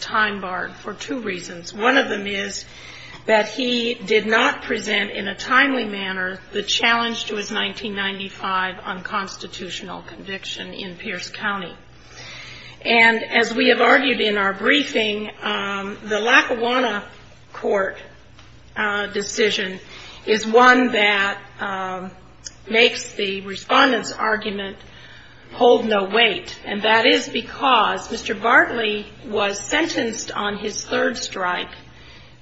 time barred for two reasons. One of them is that he did not present in a timely manner the challenge to his 1995 unconstitutional conviction in Pierce County. And as we have argued in our briefing, the Lackawanna Court decision is one that makes the respondents argument hold no weight. And that is because Mr. Bartley was sentenced on his third strike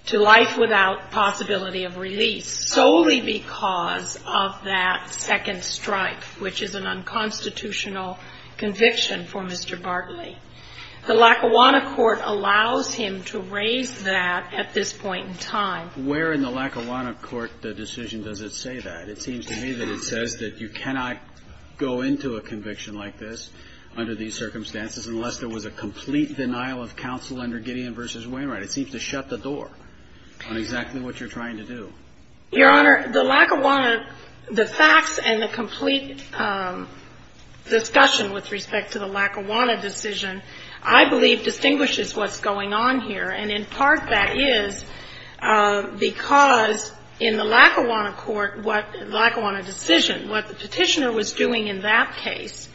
to life without possibility of release solely because of that second strike, which is an unconstitutional conviction for Mr. Bartley. The Lackawanna Court allows him to raise that at this point in time. Where in the Lackawanna Court the decision does it say that? It seems to me that it says that you cannot go into a conviction like this under these circumstances unless there was a complete denial of counsel under Gideon v. Wainwright. It seems to shut the door on exactly what you're trying to do. Your Honor, the Lackawanna, the facts and the complete discussion with respect to the Lackawanna decision I believe distinguishes what's going on here. And in part that is because in the Lackawanna Court, what the Lackawanna decision, what the Petitioner was doing in that case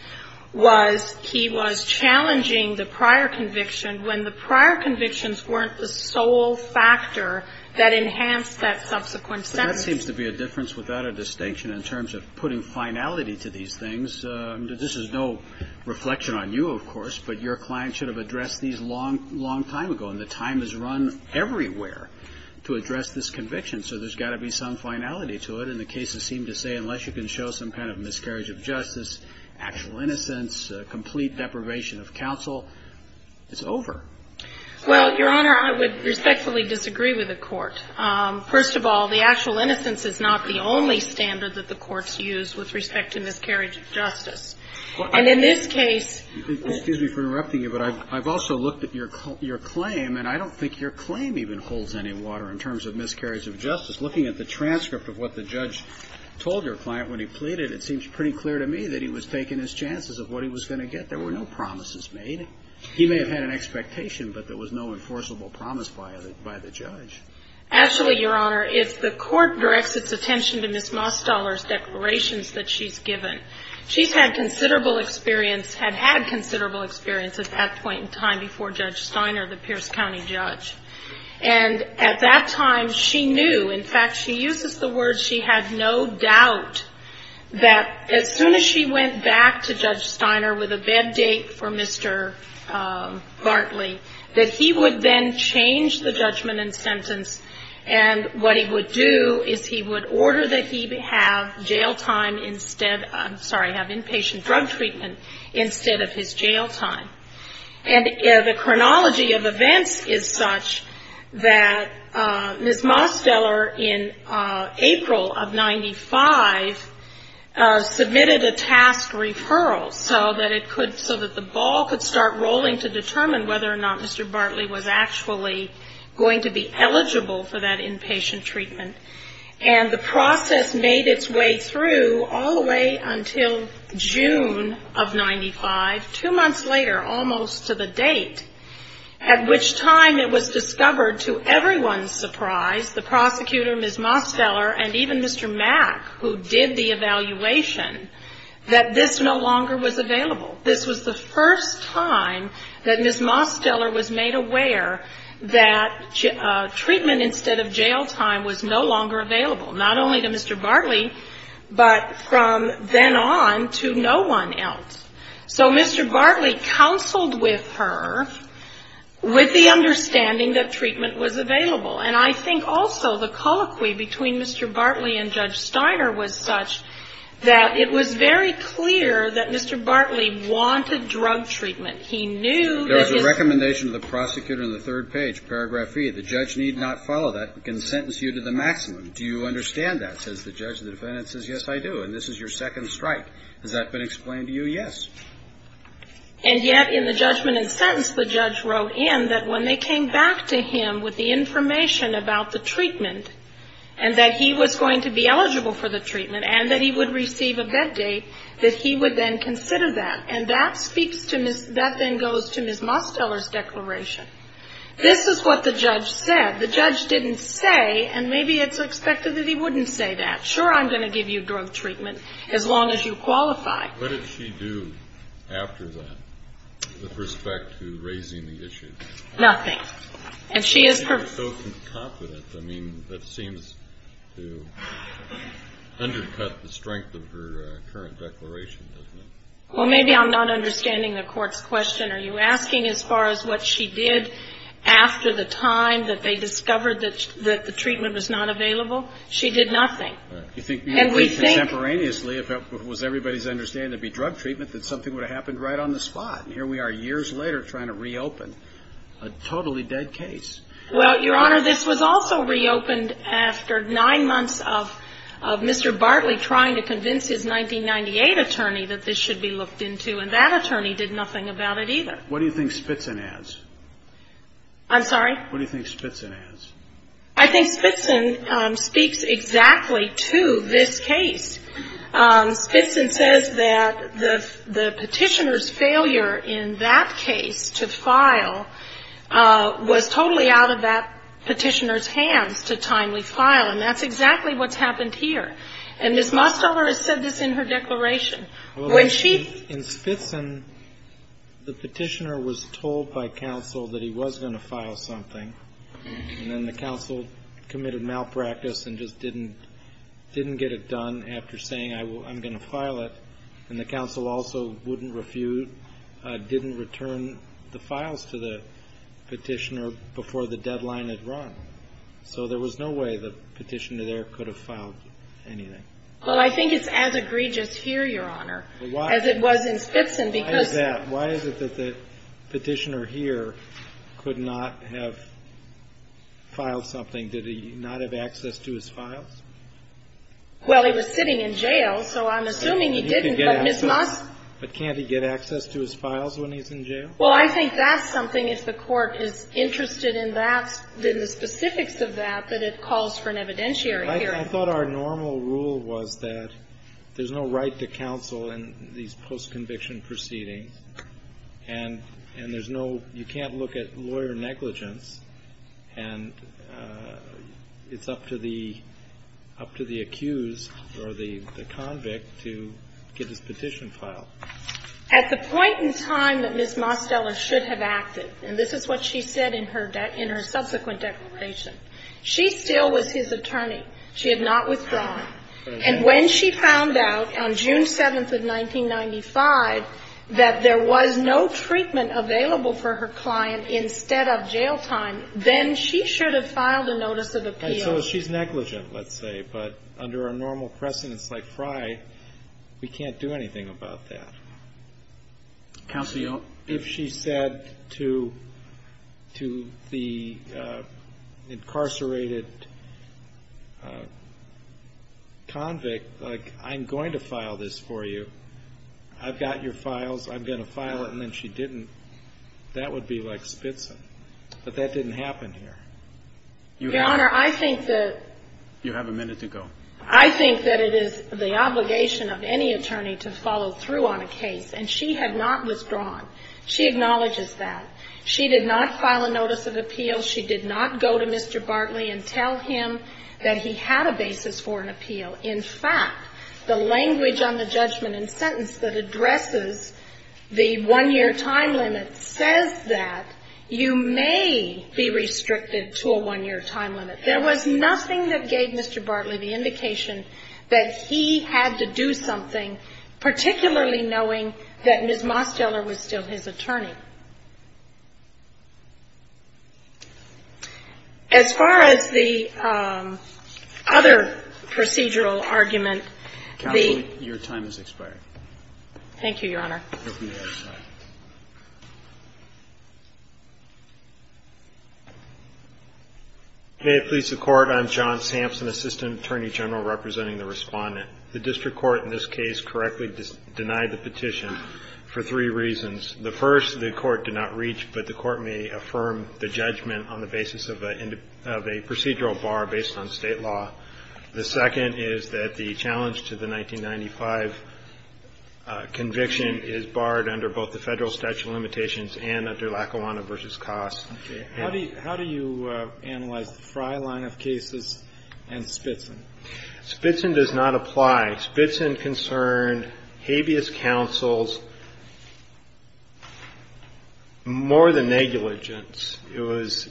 was he was challenging the prior conviction when the prior convictions weren't the sole factor that enhanced that subsequent sentence. But that seems to be a difference without a distinction in terms of putting finality to these things. This is no reflection on you, of course, but your client should have to address this conviction. So there's got to be some finality to it. And the cases seem to say unless you can show some kind of miscarriage of justice, actual innocence, complete deprivation of counsel, it's over. Well, Your Honor, I would respectfully disagree with the Court. First of all, the actual innocence is not the only standard that the Courts use with respect to miscarriage of justice. And in this case — Excuse me for interrupting you, but I've also looked at your claim, and I don't think your claim even holds any water in terms of miscarriage of justice. Looking at the transcript of what the judge told your client when he pleaded, it seems pretty clear to me that he was taking his chances of what he was going to get. There were no promises made. He may have had an expectation, but there was no enforceable promise by the judge. Actually, Your Honor, if the Court directs its attention to Ms. Mosteller's declarations that she's given, she's had considerable experience — had had considerable experience at that point in time before Judge Steiner, the Pierce County judge. And at that time, she knew — in fact, she uses the word she had no doubt — that as soon as she went back to Judge Steiner with a bed date for Mr. Bartley, that he would then change the judgment and sentence. And what he would do is he would order that he have jail time instead — I'm sorry, have inpatient drug treatment instead of his jail time. And the chronology of events is such that Ms. Mosteller, in April of 95, submitted a task referral so that it could — so that the ball could start rolling to determine whether or not Mr. Bartley was actually going to be eligible for that inpatient treatment. And the process made its way through all the way until June of 95, two months later almost to the date, at which time it was discovered to everyone's surprise, the prosecutor, Ms. Mosteller, and even Mr. Mack, who did the evaluation, that this no longer was available. This was the first time that Ms. Mosteller was made aware that treatment instead of jail time was no longer available, not only to Ms. Mosteller, but from then on to no one else. So Mr. Bartley counseled with her with the understanding that treatment was available. And I think also the colloquy between Mr. Bartley and Judge Steiner was such that it was very clear that Mr. Bartley wanted drug treatment. He knew that his — There was a recommendation to the prosecutor in the third page, paragraph E, the judge need not follow that, can sentence you to the maximum. Do you understand that, says the judge, the defendant says, yes, I do, and this is your second strike. Has that been explained to you? Yes. And yet in the judgment and sentence the judge wrote in that when they came back to him with the information about the treatment and that he was going to be eligible for the treatment and that he would receive a bed date, that he would then consider that. And that speaks to Ms. — that then goes to Ms. Mosteller's declaration. This is what the judge said. The judge didn't say, and maybe it's expected that he wouldn't say that, sure, I'm going to give you drug treatment as long as you qualify. What did she do after that with respect to raising the issue? Nothing. And she is — She was so confident. I mean, that seems to undercut the strength of her current declaration, doesn't it? Well, maybe I'm not understanding the Court's question. Are you asking as far as what she did after the time that they discovered that the treatment was not available? She did nothing. Do you think, contemporaneously, if it was everybody's understanding it would be drug treatment, that something would have happened right on the spot? And here we are years later trying to reopen a totally dead case. Well, Your Honor, this was also reopened after nine months of Mr. Bartley trying to convince his 1998 attorney that this should be looked into. And that attorney did nothing about it either. And what do you think Spitzin adds? I'm sorry? What do you think Spitzin adds? I think Spitzin speaks exactly to this case. Spitzin says that the Petitioner's failure in that case to file was totally out of that Petitioner's hands to timely file, and that's exactly what's happened here. And Ms. Mosteller has said this in her declaration. In Spitzin, the Petitioner was told by counsel that he was going to file something, and then the counsel committed malpractice and just didn't get it done after saying, I'm going to file it. And the counsel also wouldn't refute, didn't return the files to the Petitioner before the deadline had run. So there was no way the Petitioner there could have filed anything. Well, I think it's as egregious here, Your Honor, as it was in Spitzin, because Why is that? Why is it that the Petitioner here could not have filed something? Did he not have access to his files? Well, he was sitting in jail, so I'm assuming he didn't, but Ms. Most... But can't he get access to his files when he's in jail? Well, I think that's something, if the Court is interested in that, in the specifics of that, that it calls for an evidentiary hearing. But I thought our normal rule was that there's no right to counsel in these post-conviction proceedings, and there's no, you can't look at lawyer negligence, and it's up to the accused or the convict to get his petition filed. At the point in time that Ms. Mosteller should have acted, and this is what she said in her subsequent declaration, she still was his attorney. She had not withdrawn. And when she found out on June 7th of 1995 that there was no treatment available for her client instead of jail time, then she should have filed a notice of appeal. And so she's negligent, let's say, but under a normal precedence like Fry, we can't do anything about that. Counsel, you'll... But if she said to the incarcerated convict, like, I'm going to file this for you, I've got your files, I'm going to file it, and then she didn't, that would be like Spitzen. But that didn't happen here. Your Honor, I think that... You have a minute to go. I think that it is the obligation of any attorney to follow through on a case. And she had not withdrawn. She acknowledges that. She did not file a notice of appeal. She did not go to Mr. Bartley and tell him that he had a basis for an appeal. In fact, the language on the judgment and sentence that addresses the one-year time limit says that you may be restricted to a one-year time limit. There was nothing that gave Mr. Bartley the indication that he had to do something, particularly knowing that Ms. Mosteller was still his attorney. As far as the other procedural argument, the... Counsel, your time has expired. Thank you, Your Honor. You're free to go outside. May it please the Court, I'm John Sampson, Assistant Attorney General representing the Respondent. The district court in this case correctly denied the petition for three reasons. The first, the court did not reach, but the court may affirm the judgment on the basis of a procedural bar based on State law. The second is that the challenge to the 1995 conviction is barred under both the Federal statute of limitations and under Lackawanna v. Koss. How do you analyze the Frye line of cases and Spitzen? Spitzen does not apply. Spitzen concerned habeas counsel's more than negligence. It was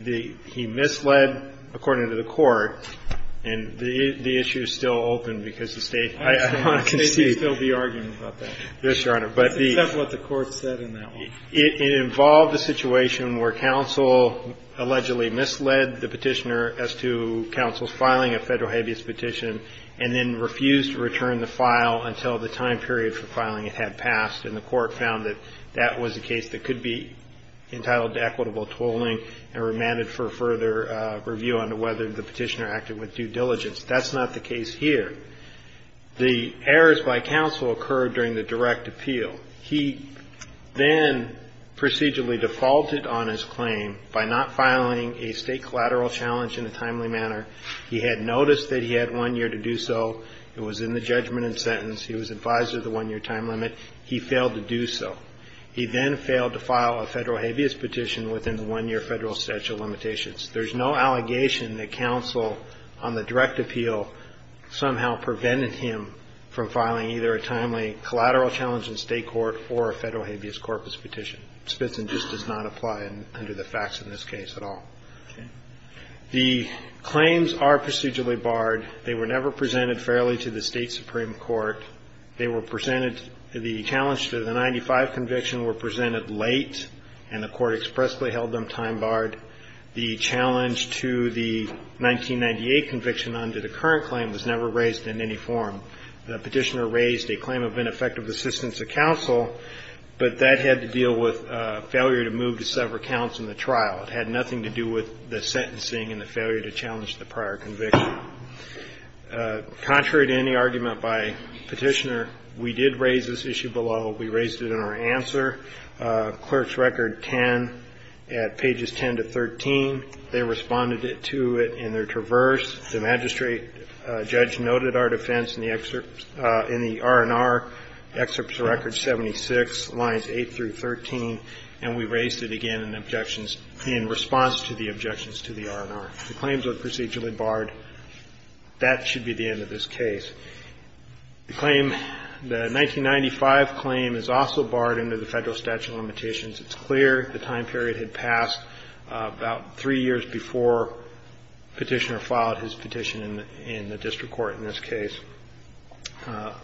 the he misled, according to the Court, and the issue is still open because the State... I want to concede. The State should still be arguing about that. Yes, Your Honor. Except what the Court said in that one. It involved a situation where counsel allegedly misled the petitioner as to counsel's filing a Federal habeas petition and then refused to return the file until the time period for filing it had passed, and the Court found that that was a case that could be entitled to equitable tolling and remanded for further review on whether the petitioner acted with due diligence. That's not the case here. The errors by counsel occurred during the direct appeal. He then procedurally defaulted on his claim by not filing a State collateral challenge in a timely manner. He had noticed that he had one year to do so. It was in the judgment and sentence. He was advised of the one-year time limit. He failed to do so. He then failed to file a Federal habeas petition within the one-year Federal statute of limitations. There's no allegation that counsel on the direct appeal somehow prevented him from filing either a timely collateral challenge in State court or a Federal habeas corpus petition. Spitzen just does not apply under the facts in this case at all. Okay. The claims are procedurally barred. They were never presented fairly to the State Supreme Court. They were presented to the challenge to the 1995 conviction were presented late, and the Court expressly held them time-barred. The challenge to the 1998 conviction under the current claim was never raised in any form. The petitioner raised a claim of ineffective assistance to counsel, but that had to deal with failure to move to several counts in the trial. It had nothing to do with the sentencing and the failure to challenge the prior conviction. Contrary to any argument by Petitioner, we did raise this issue below. We raised it in our answer. Clerk's record 10 at pages 10 to 13. They responded to it in their traverse. The magistrate judge noted our defense in the R&R excerpts record 76, lines 8 through 13, and we raised it again in objections in response to the objections to the R&R. The claims are procedurally barred. That should be the end of this case. The claim, the 1995 claim is also barred under the Federal statute of limitations. It's clear the time period had passed about three years before Petitioner filed his petition in the district court in this case.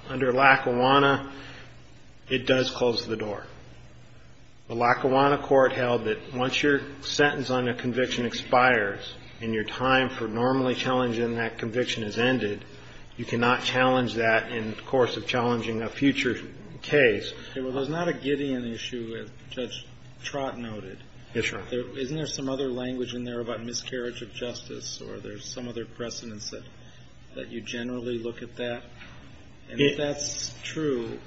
Under Lackawanna, it does close the door. The Lackawanna court held that once your sentence on a conviction expires and your time for normally challenging that conviction has ended, you cannot challenge that in the course of challenging a future case. Okay. Well, there's not a Gideon issue, as Judge Trott noted. Yes, Your Honor. Isn't there some other language in there about miscarriage of justice, or there's some other precedence that you generally look at that? And if that's true,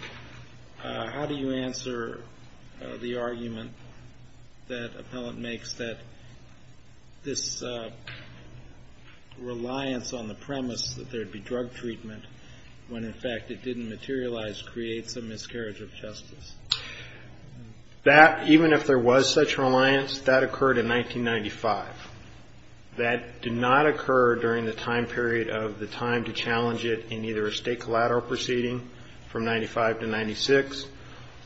how do you answer the argument that appellant makes that this reliance on the premise that there would be drug treatment when, in fact, it didn't materialize creates a miscarriage of justice? That, even if there was such reliance, that occurred in 1995. That did not occur during the time period of the time to challenge it in either a state collateral proceeding from 1995 to 1996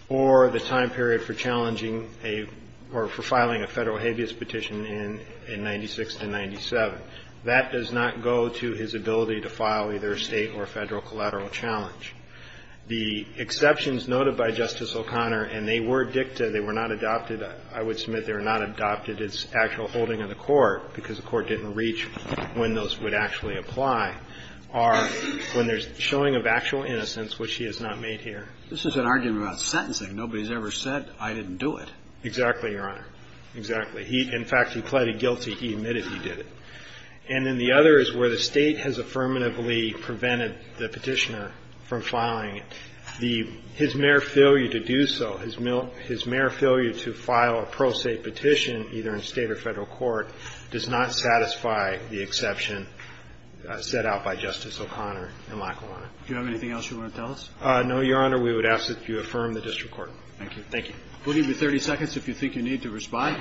or the time period for challenging a or for filing a Federal habeas petition in 1996 to 1997. That does not go to his ability to file either a state or a Federal collateral challenge. The exceptions noted by Justice O'Connor, and they were dicta, they were not adopted I would submit, they were not adopted as actual holding of the court because the court didn't reach when those would actually apply, are when there's showing of actual innocence, which he has not made here. This is an argument about sentencing. Nobody's ever said, I didn't do it. Exactly, Your Honor. Exactly. In fact, he pleaded guilty. He admitted he did it. And then the other is where the State has affirmatively prevented the petitioner from filing it. His mere failure to do so, his mere failure to file a pro se petition either in State or Federal court does not satisfy the exception set out by Justice O'Connor in Lackawanna. Do you have anything else you want to tell us? No, Your Honor. We would ask that you affirm the district court. Thank you. Thank you. We'll give you 30 seconds if you think you need to respond.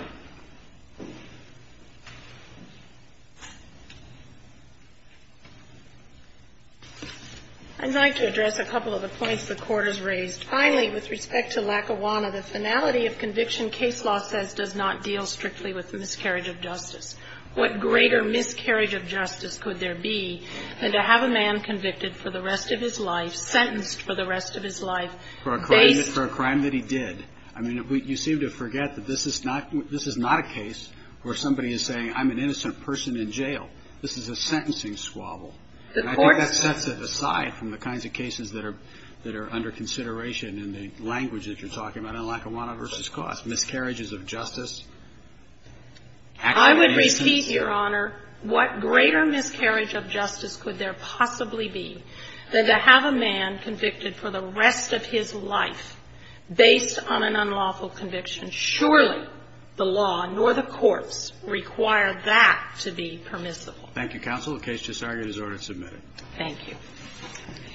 I'd like to address a couple of the points the Court has raised. Finally, with respect to Lackawanna, the finality of conviction case law says does not deal strictly with miscarriage of justice. What greater miscarriage of justice could there be than to have a man convicted for the rest of his life, sentenced for the rest of his life, based ---- For a crime that he did. I mean, you seem to forget that this is not a case where somebody is saying I'm an innocent person in jail. This is a sentencing squabble. And I think that sets it aside from the kinds of cases that are under consideration in the language that you're talking about in Lackawanna v. Cost. Miscarriages of justice. I would repeat, Your Honor, what greater miscarriage of justice could there possibly be than to have a man convicted for the rest of his life based on an unlawful conviction? Surely the law nor the courts require that to be permissible. Thank you, counsel. The case just argued is order to submit it. Thank you.